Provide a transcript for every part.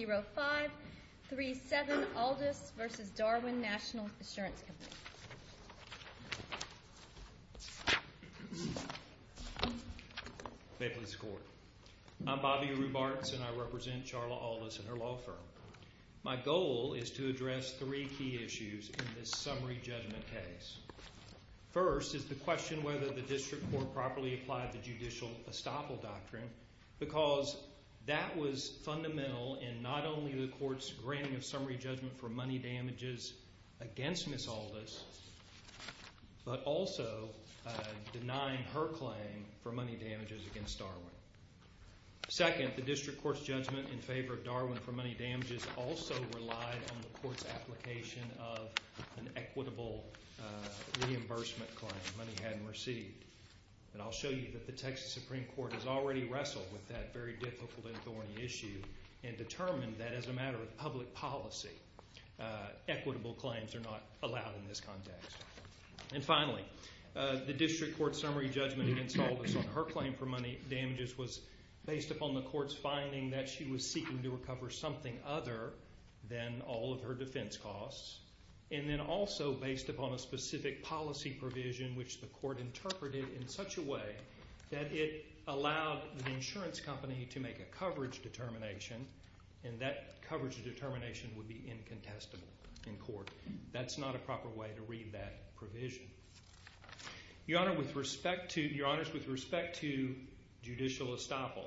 0537 Aldous v. Darwin National Assurance Company. May it please the Court. I'm Bobby Rubartz, and I represent Charla Aldous and her law firm. My goal is to address three key issues in this summary judgment case. First is the question whether the district court properly applied the judicial estoppel doctrine, because that was fundamental in not only the court's granting of summary judgment for money damages against Ms. Aldous, but also denying her claim for money damages against Darwin. Second, the district court's judgment in favor of Darwin for money damages also relied on the court's application of an equitable reimbursement claim, money hadn't received. And I'll show you that the Texas Supreme Court has already wrestled with that very difficult and thorny issue and determined that as a matter of public policy, equitable claims are not allowed in this context. And finally, the district court's summary judgment against Aldous on her claim for money damages was based upon the court's finding that she was seeking to recover something other than all of her defense costs, and then also based upon a specific policy provision which the court interpreted in such a way that it allowed the insurance company to make a coverage determination, and that coverage determination would be incontestable in court. That's not a proper way to read that provision. Your Honors, with respect to judicial estoppel,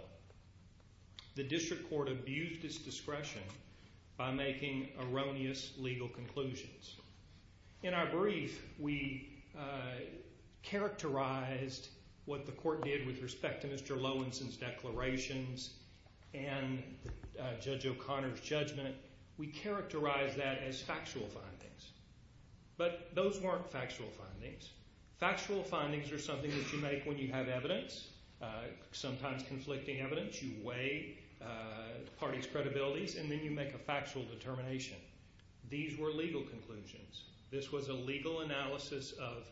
the district court abused its discretion by making erroneous legal conclusions. In our case, we characterized what the court did with respect to Mr. Lowenson's declarations and Judge O'Connor's judgment, we characterized that as factual findings. But those weren't factual findings. Factual findings are something that you make when you have evidence, sometimes conflicting evidence, you weigh the party's credibilities, and then you make a factual determination. These were legal conclusions. This was a legal analysis of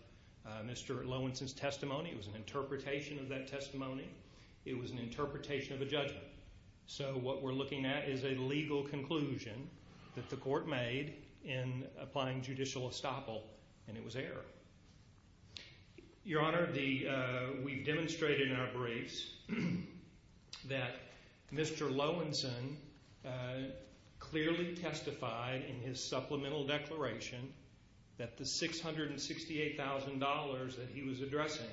Mr. Lowenson's testimony. It was an interpretation of that testimony. It was an interpretation of a judgment. So what we're looking at is a legal conclusion that the court made in applying judicial estoppel, and it was error. Your Honor, we've demonstrated in our briefs that Mr. Lowenson clearly testified in his supplemental declaration that the $668,000 that he was addressing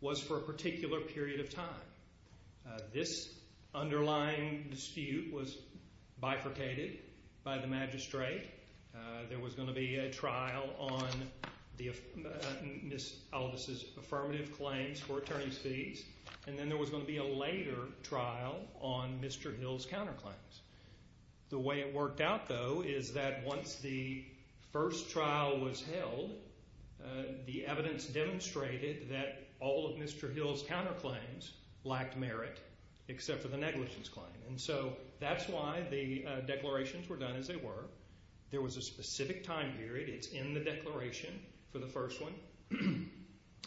was for a particular period of time. This underlying dispute was bifurcated by the magistrate. There was going to be a trial on Ms. Aldis' affirmative claims for attorney's fees, and then there was going to be a later trial on Mr. Hill's counterclaims. The way it worked out, though, is that once the first trial was held, the evidence demonstrated that all of Mr. Hill's counterclaims lacked merit, except for the negligence claim. And so that's why the declarations were done as they were. There was a specific time period. It's in the declaration for the first one.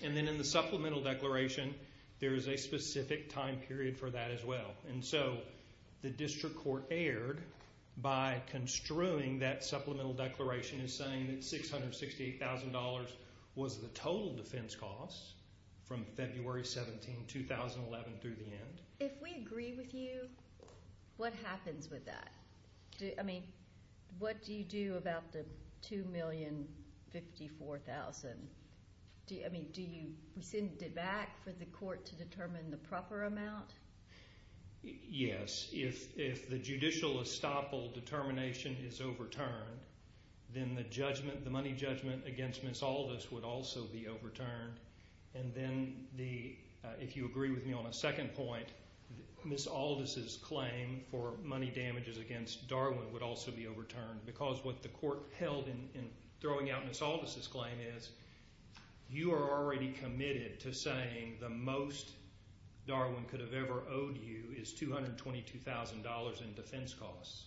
And then in the supplemental declaration, there is a specific time period for that as well. And so the district court erred by construing that supplemental declaration as saying that $668,000 was the total defense costs from February 17, 2011 through the end. If we agree with you, what happens with that? I mean, what do you do about the $2,054,000? I mean, do you send it back for the court to determine the proper amount? Yes. If the judicial estoppel determination is overturned, then the judgment, the money judgment against Ms. Aldis would also be overturned. And then if you agree with me on a second point, Ms. Aldis' claim for money damages against Darwin would also be overturned because what the court held in throwing out Ms. Aldis' claim is you are already committed to saying the most Darwin could have ever owed you is $222,000 in defense costs.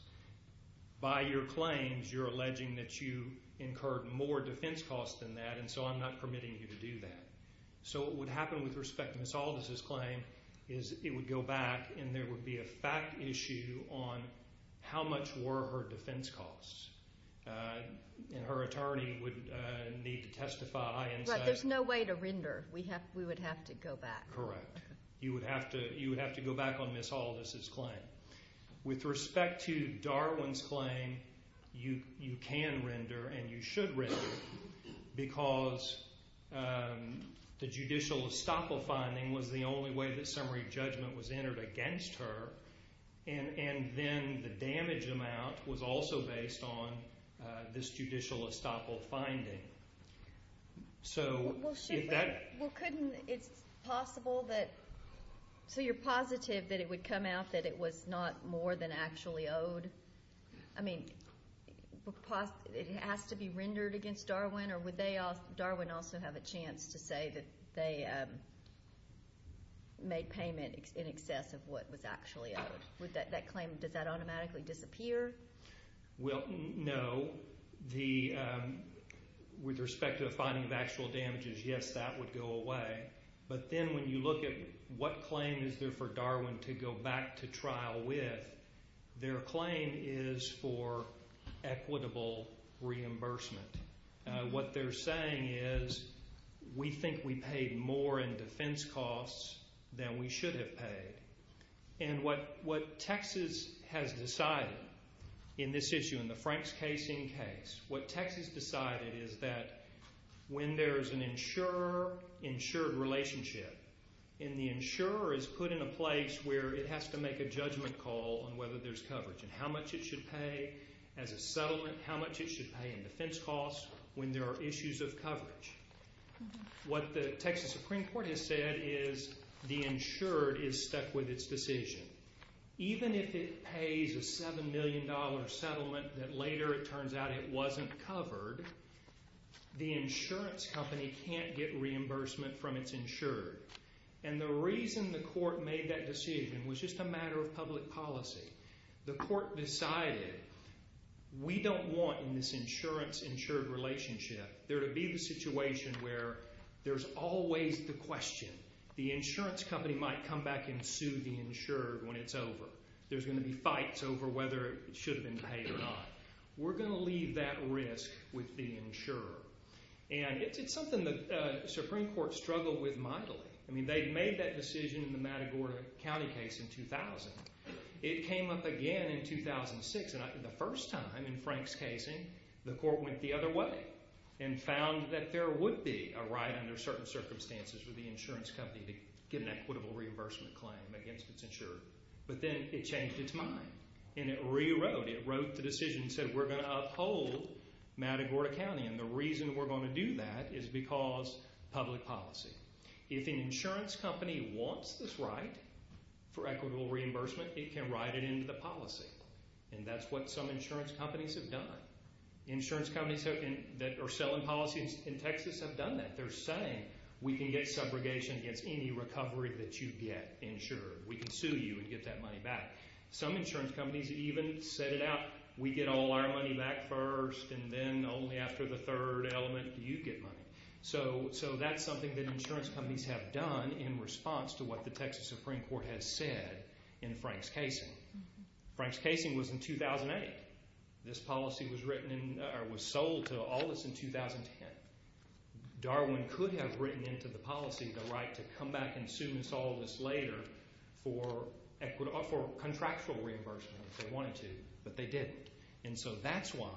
By your claims, you're alleging that you incurred more defense costs than that, and so I'm not permitting you to do that. So what would happen with respect to Ms. Aldis' claim is it would go back and there would be a fact issue on how much were her defense costs. And her attorney would need to testify and say... Right, there's no way to render. We would have to go back. Correct. You would have to go back on Ms. Aldis' claim. With respect to Darwin's claim, you can render and you should render because the judicial estoppel finding was the only way that summary judgment was entered against her, and then the damage amount was also based on this judicial estoppel finding. So... Well, shouldn't... Well, couldn't... It's possible that... So you're positive that it would come out that it was not more than actually owed? I mean, it has to be rendered against Darwin, or would Darwin also have a chance to say that they made payment in excess of what was actually owed? Would that claim... Does that automatically disappear? Well, no. With respect to the finding of actual damages, yes, that would go away. But then when you look at what claim is there for Darwin to go back to trial with, their claim is for equitable reimbursement. What they're saying is, we think we paid more in defense costs than we should have paid. And what Texas has decided in this issue, in the Franks case in case, what Texas decided is that when there's an insurer-insured relationship, and the insurer is put in a place where it has to make a judgment call on whether there's coverage and how much it should pay as a settlement, how much it should pay in defense costs when there are issues of coverage. What the Texas Supreme Court has said is the insured is stuck with its decision. Even if it pays a $7 million settlement that later it turns out it wasn't covered, the insurance company can't get reimbursement from its insured. And the reason the court made that decision was just a matter of public policy. The court decided, we don't want in this insurance-insured relationship there to be the situation where there's always the question. The insurance company might come back and sue the insured when it's over. There's going to be fights over whether it should have been paid or not. We're going to leave that risk with the insurer. And it's something the Supreme Court struggled with mightily. I mean, they'd made that decision in the Matagorda County case in 2000. It came up again in 2006, and the first time in Franks casing, the court went the other way and found that there would be a right under certain reimbursement claim against its insured. But then it changed its mind, and it rewrote. It wrote the decision and said, we're going to uphold Matagorda County. And the reason we're going to do that is because public policy. If an insurance company wants this right for equitable reimbursement, it can write it into the policy. And that's what some insurance companies have done. Insurance companies that are selling policies in Texas have done that. They're saying, we can get subrogation against any recovery that you get insured. We can sue you and get that money back. Some insurance companies even set it out, we get all our money back first, and then only after the third element do you get money. So that's something that insurance companies have done in response to what the Texas Supreme Court has said in Franks casing. Franks casing was in 2008. This policy was written in, or was written in. Darwin could have written into the policy the right to come back and sue and solve this later for contractual reimbursement if they wanted to, but they didn't. And so that's why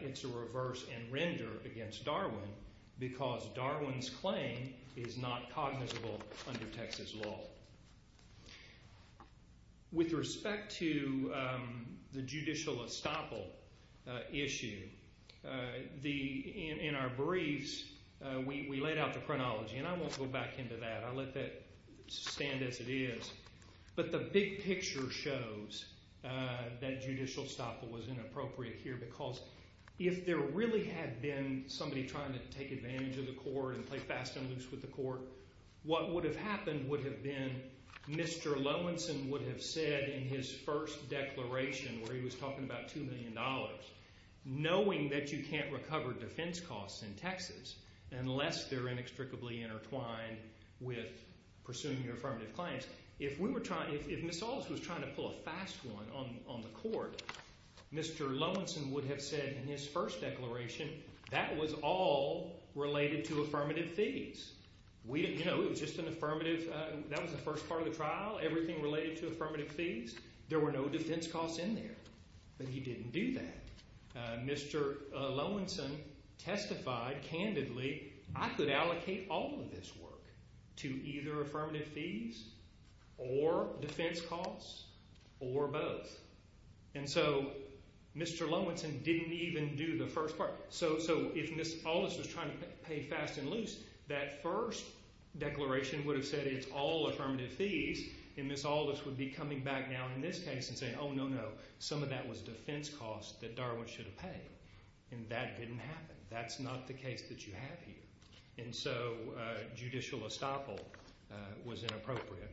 it's a reverse and render against Darwin, because Darwin's claim is not cognizable under Texas law. With respect to the judicial estoppel issue, in our briefs, we laid out the chronology, and I won't go back into that. I'll let that stand as it is. But the big picture shows that judicial estoppel was inappropriate here, because if there really had been somebody trying to take advantage of the court and play fast and loose with the court, what would have happened would have been Mr. Lowensohn would have said in his first declaration where he was talking about $2 million, knowing that you can't recover defense costs in Texas unless they're inextricably intertwined with pursuing your affirmative claims. If we were trying, if Ms. Wallace was trying to pull a fast one on the court, Mr. Lowensohn would have said in his first declaration that was all related to affirmative fees. We didn't know. It was just an affirmative, that was the first part of the trial, everything related to affirmative fees. There were no defense costs in there, but he didn't do that. Mr. Lowensohn testified candidly, I could allocate all of this work to either affirmative fees or defense costs or both. And so Mr. Lowensohn didn't even do the first part. So if Ms. Wallace was trying to pay fast and loose, that first declaration would have said it's all affirmative fees, and Ms. Wallace would be coming back now in this case and saying, oh, no, no, some of that was defense costs that Darwin should have paid. And that didn't happen. That's not the case that you have here. And so judicial estoppel was inappropriate.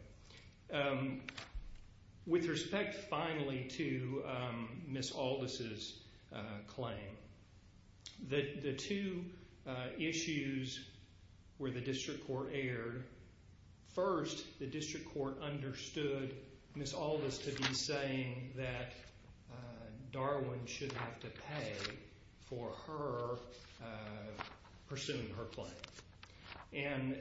With respect, finally, to Ms. Aldis' claim, the two issues where the district court erred, first the district court understood Ms. Aldis to be saying that Darwin should have to pay for her pursuing her claim. And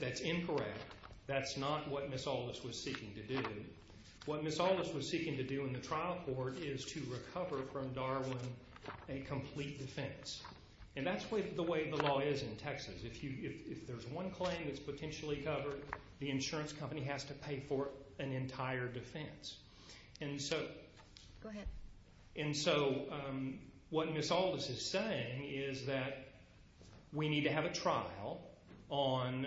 that's incorrect. That's not what Ms. Aldis was seeking to do. What Ms. Aldis was seeking to do in the trial court is to recover from Darwin a complete defense. And that's the way the law is in Texas. If there's one claim that's potentially covered, the insurance company has to pay for an entire defense. And so what Ms. Aldis is saying is that we need to have a trial on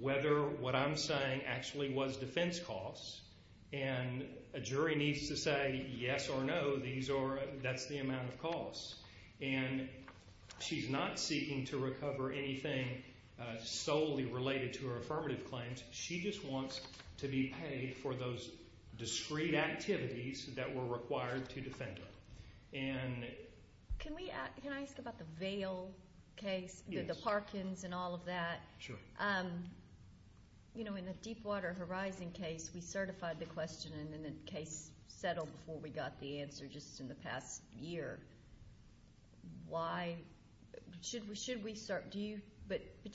whether what I'm saying actually was defense costs, and a jury needs to say yes or no, that's the amount of costs. And she's not seeking to recover anything solely related to her affirmative claims. She just wants to be paid for those discrete activities that were required to defend her. Can I ask about the Vail case, the Parkins and all of that? Sure. You know, in the Deepwater Horizon case, we certified the question and then the case settled before we got the answer just in the past year. But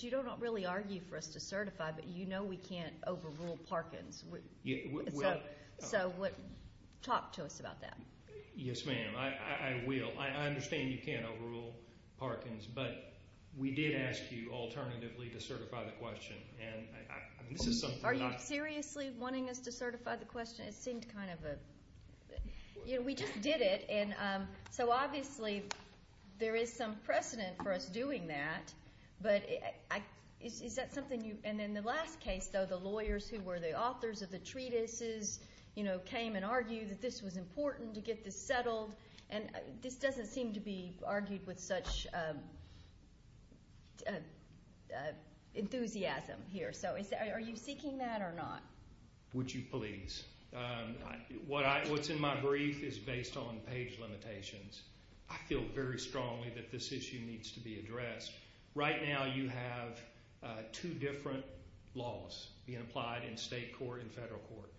you don't really argue for us to certify, but you know we can't overrule Parkins. So talk to us about that. Yes, ma'am. I will. I understand you can't overrule Parkins, but we did ask you alternatively to certify the question. Are you seriously wanting us to certify the question? It seemed kind of a... We just did it, so obviously there is some precedent for us doing that, but is that something you... And in the last case, though, the lawyers who were the authors of the treatises, you know, came and argued that this was important to get this settled, and this doesn't seem to be Are you seeking that or not? Would you please? What's in my brief is based on page limitations. I feel very strongly that this issue needs to be addressed. Right now you have two different laws being applied in state court and federal court.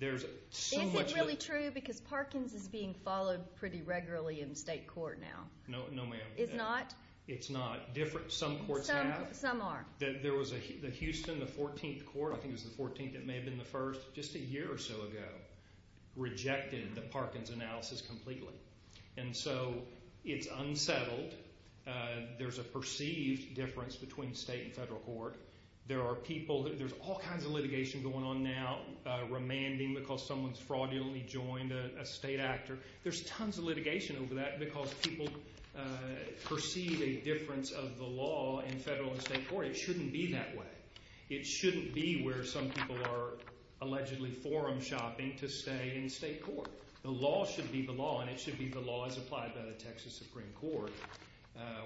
Is it really true because Parkins is being followed pretty regularly in state court now? No, ma'am. It's not? It's not. Some courts have. Some are. There was a Houston, the 14th court, I think it was the 14th, it may have been the first, just a year or so ago, rejected the Parkins analysis completely. And so it's unsettled. There's a perceived difference between state and federal court. There are people, there's all kinds of litigation going on now, remanding because someone's fraudulently joined a state actor. There's tons of litigation over that because people perceive a difference of the law in federal and state court. It shouldn't be that way. It shouldn't be where some people are allegedly forum shopping to stay in state court. The law should be the law and it should be the law as applied by the Texas Supreme Court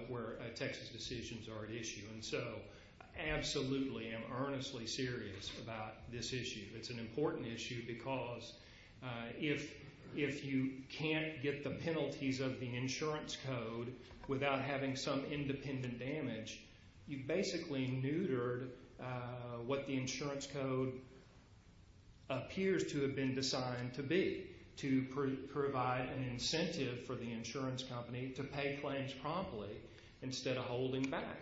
where Texas decisions are at issue. And so absolutely am earnestly serious about this issue. It's an important issue because if you can't get the penalties of the insurance code without having some independent damage, you've basically neutered what the insurance code appears to have been designed to be, to provide an incentive for the insurance company to pay claims promptly instead of holding back.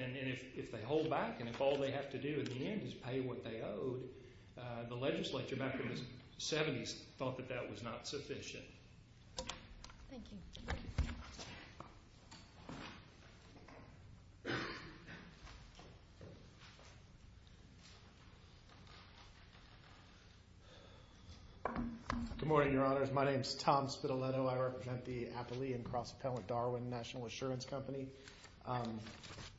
And if they hold back and if all they have to do in the end is pay what they owed, the legislature back in the 70s thought that that was not sufficient. Thank you. Good morning, Your Honors. My name is Tom Spitaletto. I represent the Appalachian Cross Appellant Darwin National Assurance Company.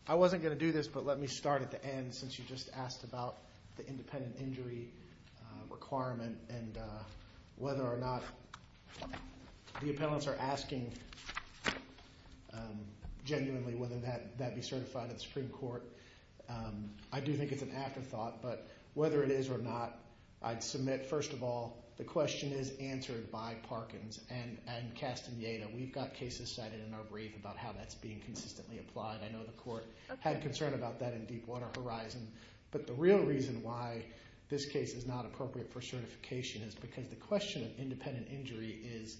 I wasn't going to do this, but let me start at the end since you just asked about the independent injury requirement and whether or not the appellants are asking genuinely whether that be certified at the Supreme Court. I do think it's an afterthought, but whether it is or not, I'd submit, first of all, the question is answered by Parkins and Castaneda. We've got cases cited in our brief about how that's being consistently applied. I know the court had concern about that in Deepwater Horizon. But the real reason why this case is not appropriate for certification is because the question of independent injury is,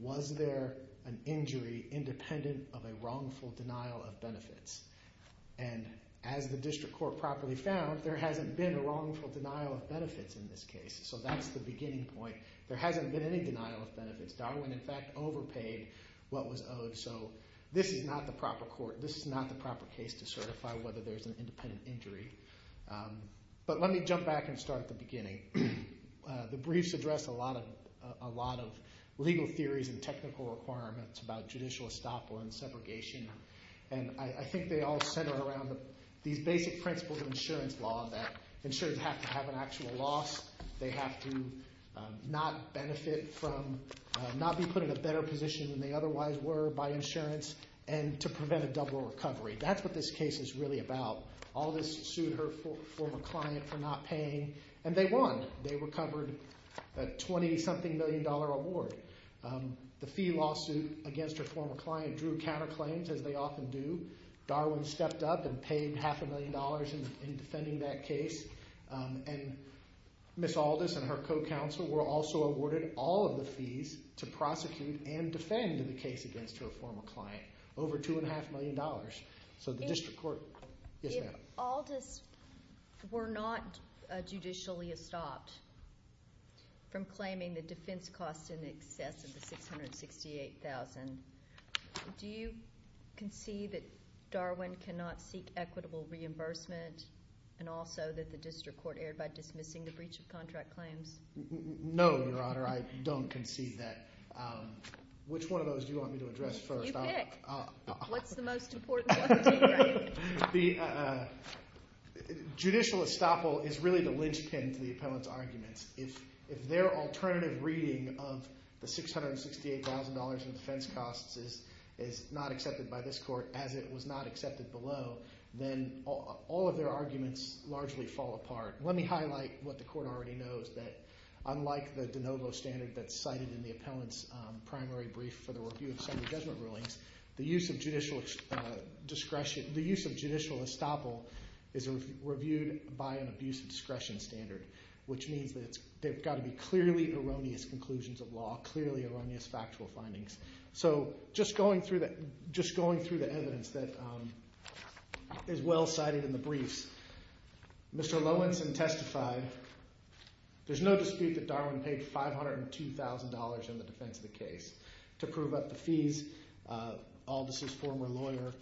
was there an injury independent of a wrongful denial of benefits? And as the district court properly found, there hasn't been a wrongful denial of benefits in this case. So that's the beginning point. There hasn't been any denial of benefits. Darwin, in fact, overpaid what was owed. So this is not the proper court. to certify whether there's an independent injury. But let me jump back and start at the beginning. The briefs address a lot of legal theories and technical requirements about judicial estoppel and segregation. And I think they all center around these basic principles of insurance law that insurers have to have an actual loss. They have to not benefit from not being put in a better position than they otherwise were by insurance and to prevent a double recovery. That's what this case is really about. Aldis sued her former client for not paying, and they won. They recovered a $20-something million award. The fee lawsuit against her former client drew counterclaims, as they often do. Darwin stepped up and paid half a million dollars in defending that case. And Ms. Aldis and her co-counsel were also awarded all of the fees to prosecute and defend the case against her former client, over $2.5 million. So the district court... Yes, ma'am. If Aldis were not judicially estopped from claiming the defense costs in excess of the $668,000, do you concede that Darwin cannot seek equitable reimbursement and also that the district court erred by dismissing the breach of contract claims? No, Your Honor, I don't concede that. Which one of those do you want me to address first? Pick. What's the most important one for you? The judicial estoppel is really the linchpin to the appellant's arguments. If their alternative reading of the $668,000 in defense costs is not accepted by this court, as it was not accepted below, then all of their arguments largely fall apart. Let me highlight what the court already knows, that unlike the de novo standard that's cited in the appellant's primary brief for the review of summary judgment rulings, the use of judicial estoppel is reviewed by an abuse of discretion standard, which means that there have got to be clearly erroneous conclusions of law, clearly erroneous factual findings. So just going through the evidence that is well cited in the briefs, Mr. Lowenson testified there's no dispute that Darwin paid $502,000 in the defense of the case. To prove up the fees, Aldis' former lawyer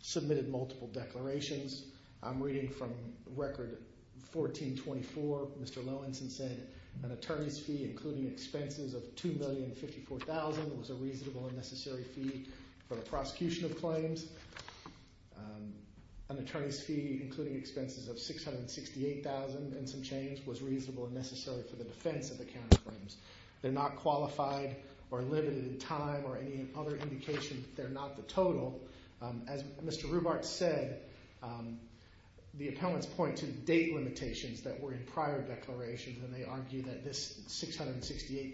submitted multiple declarations. I'm reading from record 1424. Mr. Lowenson said an attorney's fee, including expenses of $2,054,000, was a reasonable and necessary fee for the prosecution of claims. An attorney's fee, including expenses of $668,000 and some change, was reasonable and necessary for the defense of the counterclaims. They're not qualified or limited in time or any other indication that they're not the total. As Mr. Rubart said, the appellants point to date limitations that were in prior declarations, and they argue that this $668,000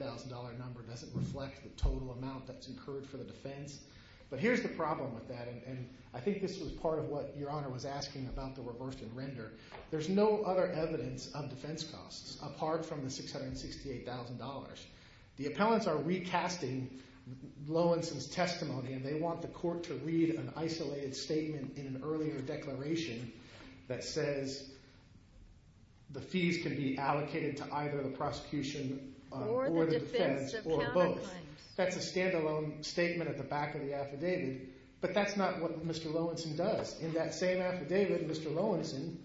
number doesn't reflect the total amount that's incurred for the defense. But here's the problem with that, and I think this was part of what Your Honor was asking about the reverse and render. There's no other evidence of defense costs apart from the $668,000. The appellants are recasting Lowenson's testimony, and they want the court to read an isolated statement in an earlier declaration that says the fees can be allocated to either the prosecution or the defense or both. That's a standalone statement at the back of the affidavit, but that's not what Mr. Lowenson does. In that same affidavit, Mr. Lowenson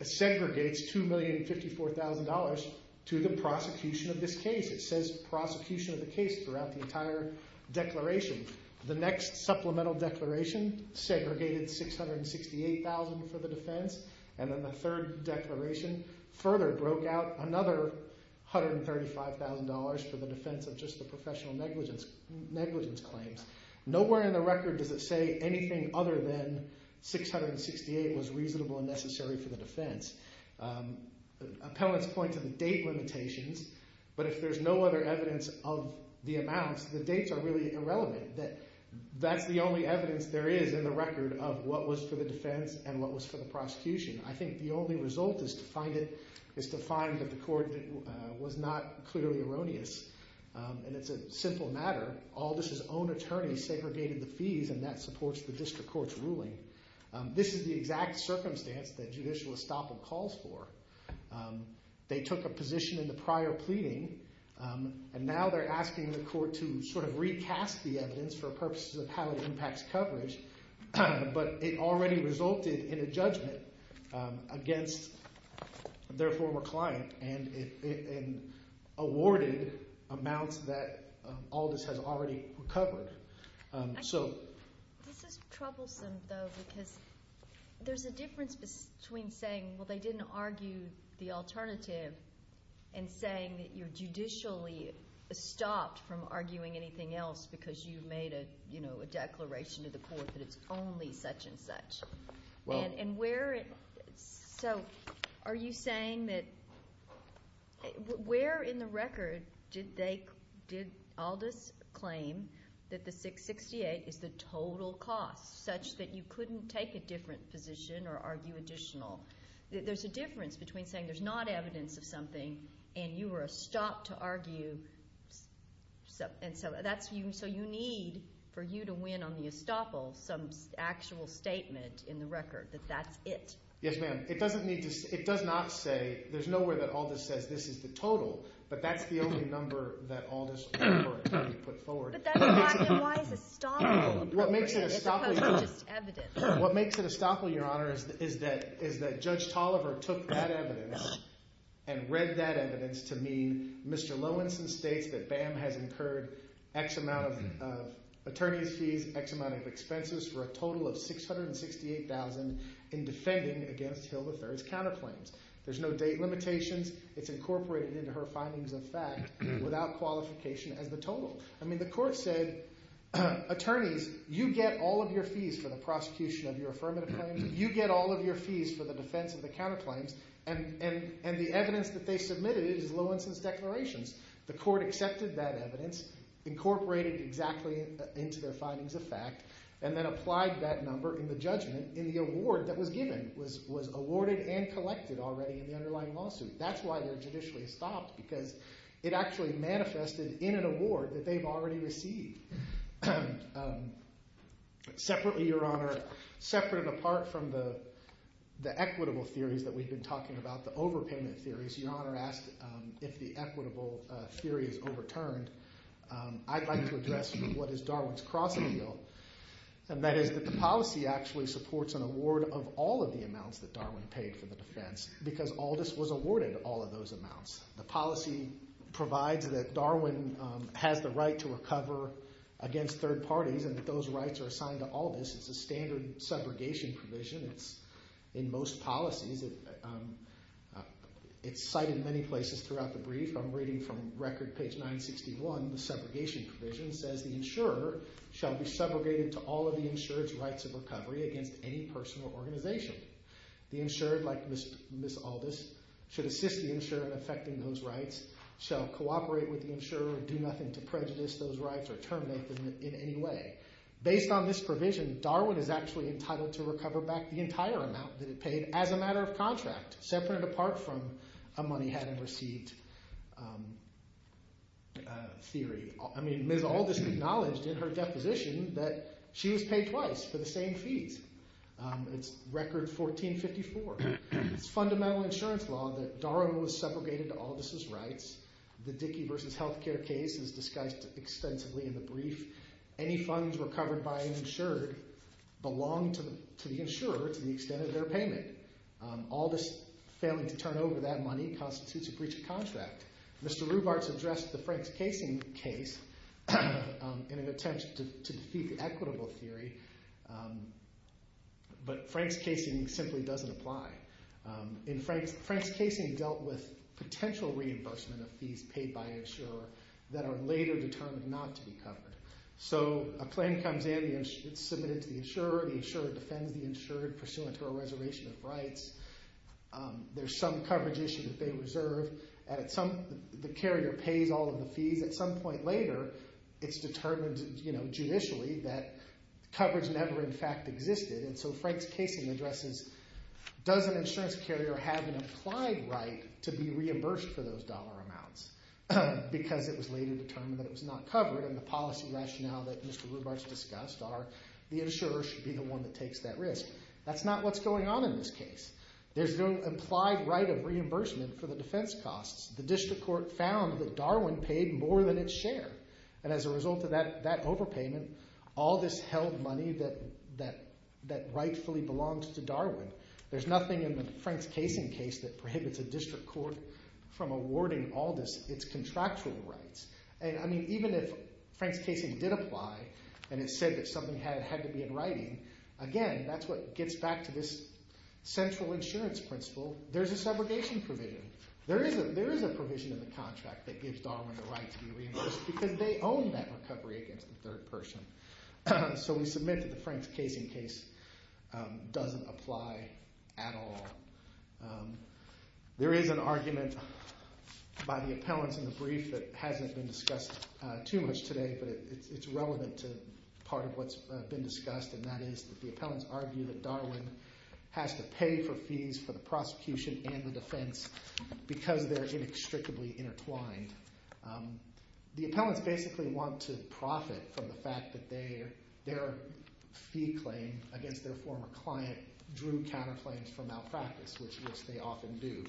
segregates $2,054,000 to the prosecution of this case. It says prosecution of the case throughout the entire declaration. The next supplemental declaration segregated $668,000 for the defense, and then the third declaration further broke out another $135,000 for the defense of just the professional negligence claims. Nowhere in the record does it say anything other than $668,000 was reasonable and necessary for the defense. Appellants point to the date limitations, but if there's no other evidence of the amounts, the dates are really irrelevant. That's the only evidence there is in the record of what was for the defense and what was for the prosecution. I think the only result is to find that the court was not clearly erroneous, and it's a simple matter. Aldis's own attorney segregated the fees, and that supports the district court's ruling. This is the exact circumstance that judicial estoppel calls for. They took a position in the prior pleading, and now they're asking the court to sort of recast the evidence for purposes of how it impacts coverage, but it already resulted in a judgment against their former client and awarded amounts that Aldis has already recovered. This is troublesome, though, because there's a difference between saying, well, they didn't argue the alternative and saying that you're judicially stopped from arguing anything else because you've made a declaration to the court that it's only such and such. Where in the record did Aldis claim that the 668 is the total cost, such that you couldn't take a different position or argue additional? There's a difference between saying there's not evidence of something and you were stopped to argue. And so you need, for you to win on the estoppel, some actual statement in the record that that's it. Yes, ma'am. It does not say, there's no way that Aldis says this is the total, but that's the only number that Aldis put forward. But then why is estoppel appropriate if it's just evidence? What makes it estoppel, Your Honor, is that Judge Tolliver took that evidence and read that evidence to mean Mr. Lowenson states that BAM has incurred X amount of attorney's fees, X amount of expenses for a total of $668,000 in defending against Hill III's counterclaims. There's no date limitations. It's incorporated into her findings of fact without qualification as the total. I mean, the court said, attorneys, you get all of your fees for the prosecution of your affirmative claims. You get all of your fees for the defense of the counterclaims. And the evidence that they submitted is Lowenson's declarations. The court accepted that evidence, incorporated it exactly into their findings of fact, and then applied that number in the judgment in the award that was given, was awarded and collected already in the underlying lawsuit. That's why they're judicially estoppel, because it actually manifested in an award that they've already received. Separately, Your Honor, separate and apart from the equitable theories that we've been talking about, the overpayment theories, Your Honor asked if the equitable theory is overturned. I'd like to address what is Darwin's crossing deal. And that is that the policy actually supports an award of all of the amounts that Darwin paid for the defense, because Aldous was awarded all of those amounts. The policy provides that Darwin has the right to recover against third parties and that those rights are assigned to Aldous. It's a standard segregation provision. It's in most policies. It's cited in many places throughout the brief. I'm reading from record page 961. The segregation provision says the insurer shall be segregated to all of the insurer's rights of recovery against any person or organization. The insurer, like Ms. Aldous, should assist the insurer in effecting those rights, shall cooperate with the insurer and do nothing to prejudice those rights or terminate them in any way. Based on this provision, Darwin is actually entitled to recover back the entire amount that it paid as a matter of contract, separate and apart from a money-hadn't-received theory. I mean, Ms. Aldous acknowledged in her deposition that she was paid twice for the same fees. It's record 1454. It's fundamental insurance law that Darwin was segregated to Aldous' rights. The Dickey v. Healthcare case is discussed extensively in the brief. Any funds recovered by an insured belong to the insurer to the extent of their payment. Aldous failing to turn over that money constitutes a breach of contract. Mr. Rubarts addressed the Franks-Casing case in an attempt to defeat the equitable theory, but Franks-Casing simply doesn't apply. Franks-Casing dealt with potential reimbursement of fees paid by an insurer that are later determined not to be covered. So a claim comes in, it's submitted to the insurer, the insurer defends the insured pursuant to a reservation of rights. There's some coverage issue that they reserve. The carrier pays all of the fees. At some point later, it's determined judicially that coverage never in fact existed. And so Franks-Casing addresses, does an insurance carrier have an applied right to be reimbursed for those dollar amounts? Because it was later determined that it was not covered and the policy rationale that Mr. Rubarts discussed are the insurer should be the one that takes that risk. That's not what's going on in this case. There's no implied right of reimbursement for the defense costs. The district court found that Darwin paid more than its share. And as a result of that overpayment, Aldous held money that rightfully belongs to Darwin. There's nothing in the Franks-Casing case that prohibits a district court from awarding Aldous its contractual rights. And, I mean, even if Franks-Casing did apply and it said that something had to be in writing, again, that's what gets back to this central insurance principle. There's a segregation provision. There is a provision in the contract that gives Darwin the right to be reimbursed because they own that recovery against the third person. So we submit that the Franks-Casing case doesn't apply at all. There is an argument by the appellants in the brief that hasn't been discussed too much today, but it's relevant to part of what's been discussed, and that is that the appellants argue that Darwin has to pay for fees for the prosecution and the defense because they're inextricably intertwined. The appellants basically want to profit from the fact that their fee claim against their former client drew counterclaims for malpractice, which they often do.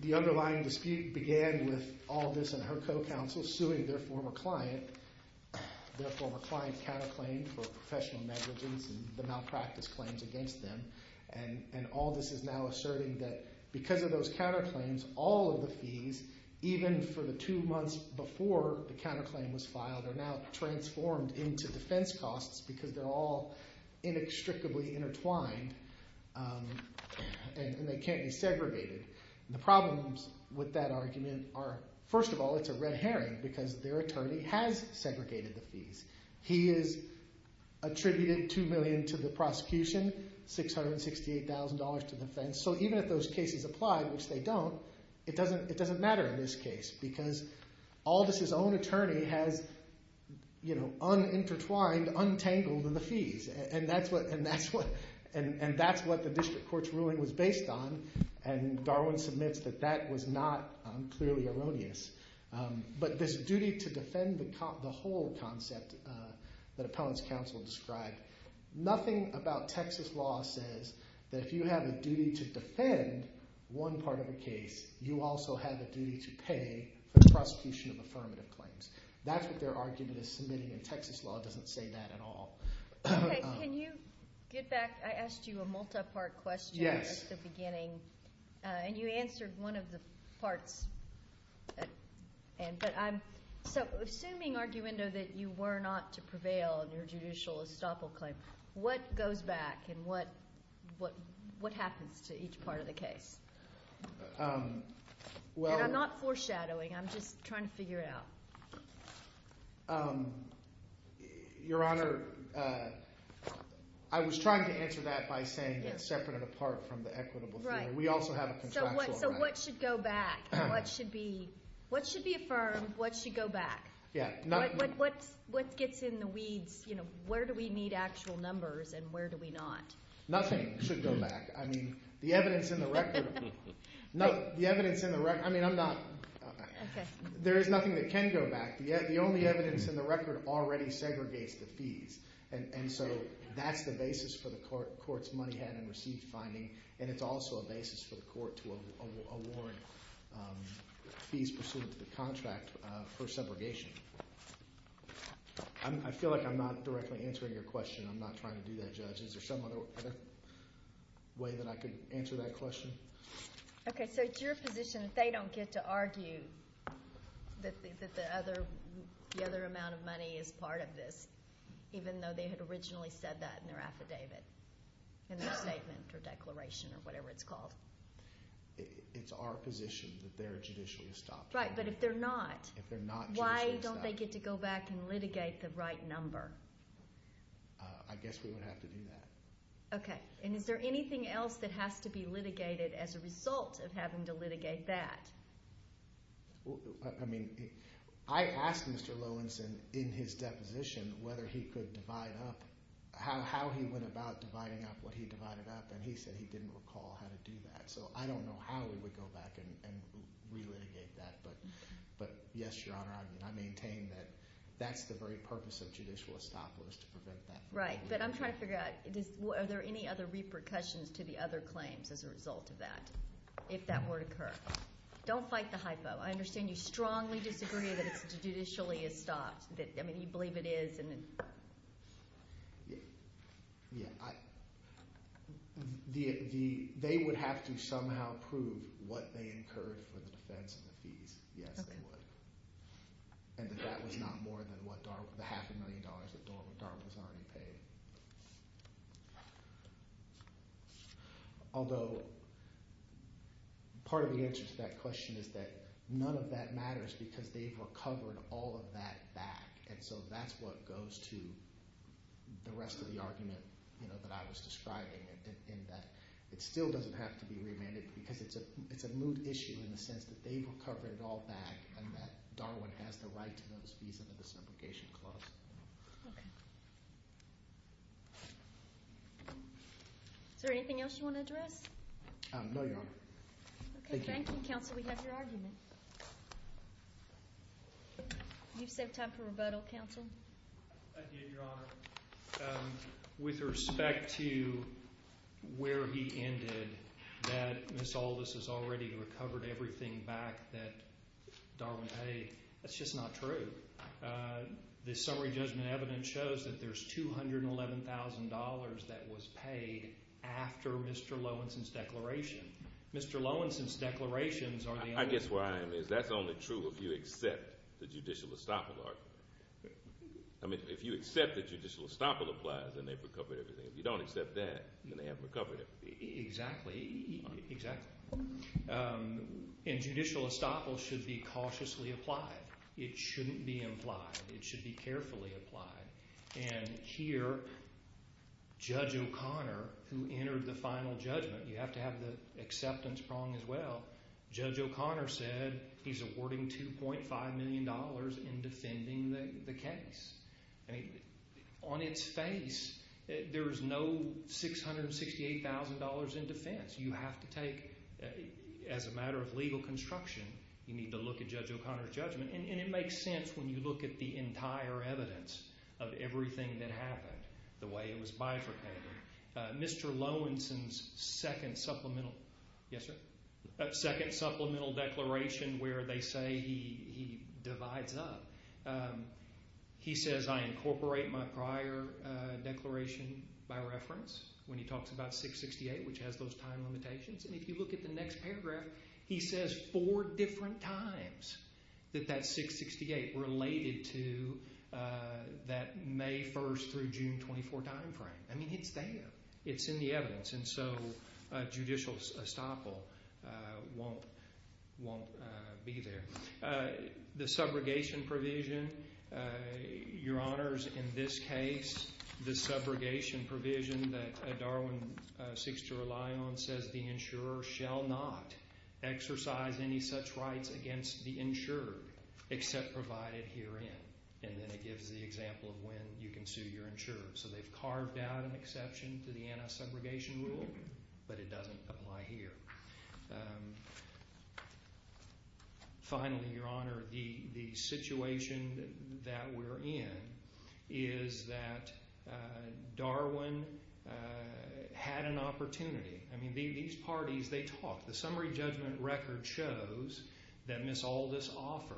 The underlying dispute began with Aldous and her co-counsel suing their former client. Their former client counterclaimed for professional negligence and the malpractice claims against them, and Aldous is now asserting that because of those counterclaims, all of the fees, even for the two months before the counterclaim was filed, are now transformed into defense costs because they're all inextricably intertwined and they can't be segregated. The problems with that argument are, first of all, it's a red herring because their attorney has segregated the fees. He has attributed $2 million to the prosecution, $668,000 to defense, so even if those cases apply, which they don't, the attorney has unintertwined, untangled the fees, and that's what the district court's ruling was based on, and Darwin submits that that was not clearly erroneous. But this duty to defend the whole concept that appellants counsel described, nothing about Texas law says that if you have a duty to defend one part of a case, you also have a duty to pay for the prosecution of affirmative claims. That's what their argument is submitting, and Texas law doesn't say that at all. Okay, can you get back? I asked you a multi-part question at the beginning, and you answered one of the parts. So assuming, Arguendo, that you were not to prevail in your judicial estoppel claim, what goes back and what happens to each part of the case? And I'm not foreshadowing, I'm just trying to figure it out. Your Honor, I was trying to answer that by saying that separate and apart from the equitable fee, we also have a contractual right. So what should go back? What should be affirmed? What should go back? What gets in the weeds? Where do we need actual numbers and where do we not? Nothing should go back. I mean, the evidence in the record. No, the evidence in the record. I mean, I'm not. There is nothing that can go back. The only evidence in the record already segregates the fees. And so that's the basis for the court's money-had-and-received finding, and it's also a basis for the court to award fees pursuant to the contract for segregation. I feel like I'm not directly answering your question. I'm not trying to do that, Judge. Is there some other way that I could answer that question? Okay, so it's your position that they don't get to argue that the other amount of money is part of this, even though they had originally said that in their affidavit, in their statement or declaration or whatever it's called? It's our position that they're judicially stopped. Right, but if they're not, why don't they get to go back and litigate the right number? I guess we would have to do that. Okay, and is there anything else that has to be litigated as a result of having to litigate that? I mean, I asked Mr. Lowenson in his deposition whether he could divide up how he went about dividing up what he divided up, and he said he didn't recall how to do that. So I don't know how we would go back and relitigate that, but yes, Your Honor, I maintain that that's the very purpose of judicial estoppel is to prevent that. Right, but I'm trying to figure out, are there any other repercussions to the other claims as a result of that if that were to occur? Don't fight the hypo. I understand you strongly disagree that it's judicially estopped. I mean, you believe it is. They would have to somehow prove what they incurred for the defense and the fees. Yes, they would. And that that was not more than the half a million dollars that DARPA was already paying. Although part of the answer to that question is that none of that matters because they've recovered all of that back, and so that's what goes to the rest of the argument that I was describing in that it still doesn't have to be remanded because it's a moot issue in the sense that they've recovered it all back and that Darwin has the right to those fees under the subrogation clause. Okay. Thank you. Is there anything else you want to address? No, Your Honor. Okay, thank you, Counsel. We have your argument. You've saved time for rebuttal, Counsel. I did, Your Honor. With respect to where he ended, that Ms. Aldous has already recovered everything back that Darwin paid, that's just not true. The summary judgment evidence shows that there's $211,000 that was paid after Mr. Lowensohn's declaration. Mr. Lowensohn's declarations are the only truth. I guess where I am is that's only true if you accept the judicial estoppel argument. I mean, if you accept that judicial estoppel applies, then they've recovered everything. If you don't accept that, then they haven't recovered it. Exactly, exactly. And judicial estoppel should be cautiously applied. It shouldn't be implied. It should be carefully applied. And here, Judge O'Connor, who entered the final judgment, you have to have the acceptance prong as well, Judge O'Connor said he's awarding $2.5 million in defending the case. On its face, there's no $668,000 in defense. You have to take, as a matter of legal construction, you need to look at Judge O'Connor's judgment. And it makes sense when you look at the entire evidence of everything that happened, the way it was bifurcated. Mr. Lowensohn's second supplemental declaration where they say he divides up, he says, I incorporate my prior declaration by reference, when he talks about $668,000, which has those time limitations. And if you look at the next paragraph, he says four different times that that $668,000 related to that May 1st through June 24th time frame. I mean, it's there. It's in the evidence. And so judicial estoppel won't be there. The subrogation provision, Your Honors, in this case, the subrogation provision that Darwin seeks to rely on says the insurer shall not exercise any such rights against the insured except provided herein. And then it gives the example of when you can sue your insurer. So they've carved out an exception to the anti-subrogation rule, but it doesn't apply here. Finally, Your Honor, the situation that we're in is that Darwin had an opportunity. I mean, these parties, they talk. The summary judgment record shows that Ms. Aldis offered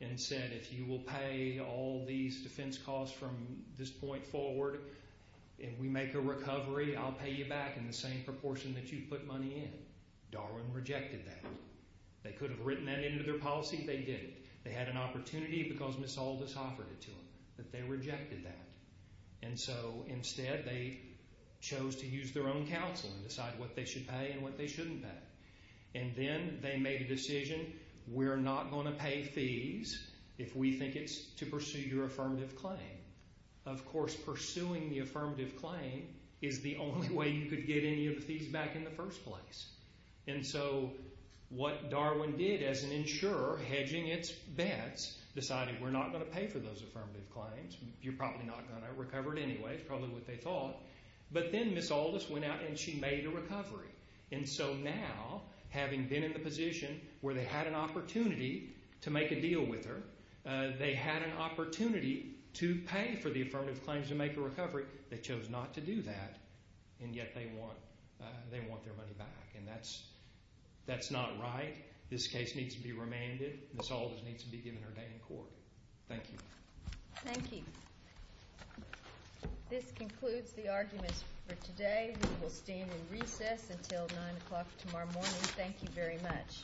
and said, if you will pay all these defense costs from this point forward, if we make a recovery, I'll pay you back in the same proportion that you put money in. Darwin rejected that. They could have written that into their policy. They didn't. They had an opportunity because Ms. Aldis offered it to them, but they rejected that. And so instead, they chose to use their own counsel and decide what they should pay and what they shouldn't pay. And then they made a decision, we're not going to pay fees if we think it's to pursue your affirmative claim. Of course, pursuing the affirmative claim is the only way you could get any of the fees back in the first place. And so what Darwin did as an insurer, hedging its bets, decided we're not going to pay for those affirmative claims. You're probably not going to recover it anyway. It's probably what they thought. But then Ms. Aldis went out and she made a recovery. And so now, having been in the position where they had an opportunity to make a deal with her, they had an opportunity to pay for the affirmative claims to make a recovery. They chose not to do that, and yet they want their money back. And that's not right. This case needs to be remanded. Ms. Aldis needs to be given her day in court. Thank you. Thank you. This concludes the arguments for today. We will stand in recess until 9 o'clock tomorrow morning. Thank you very much.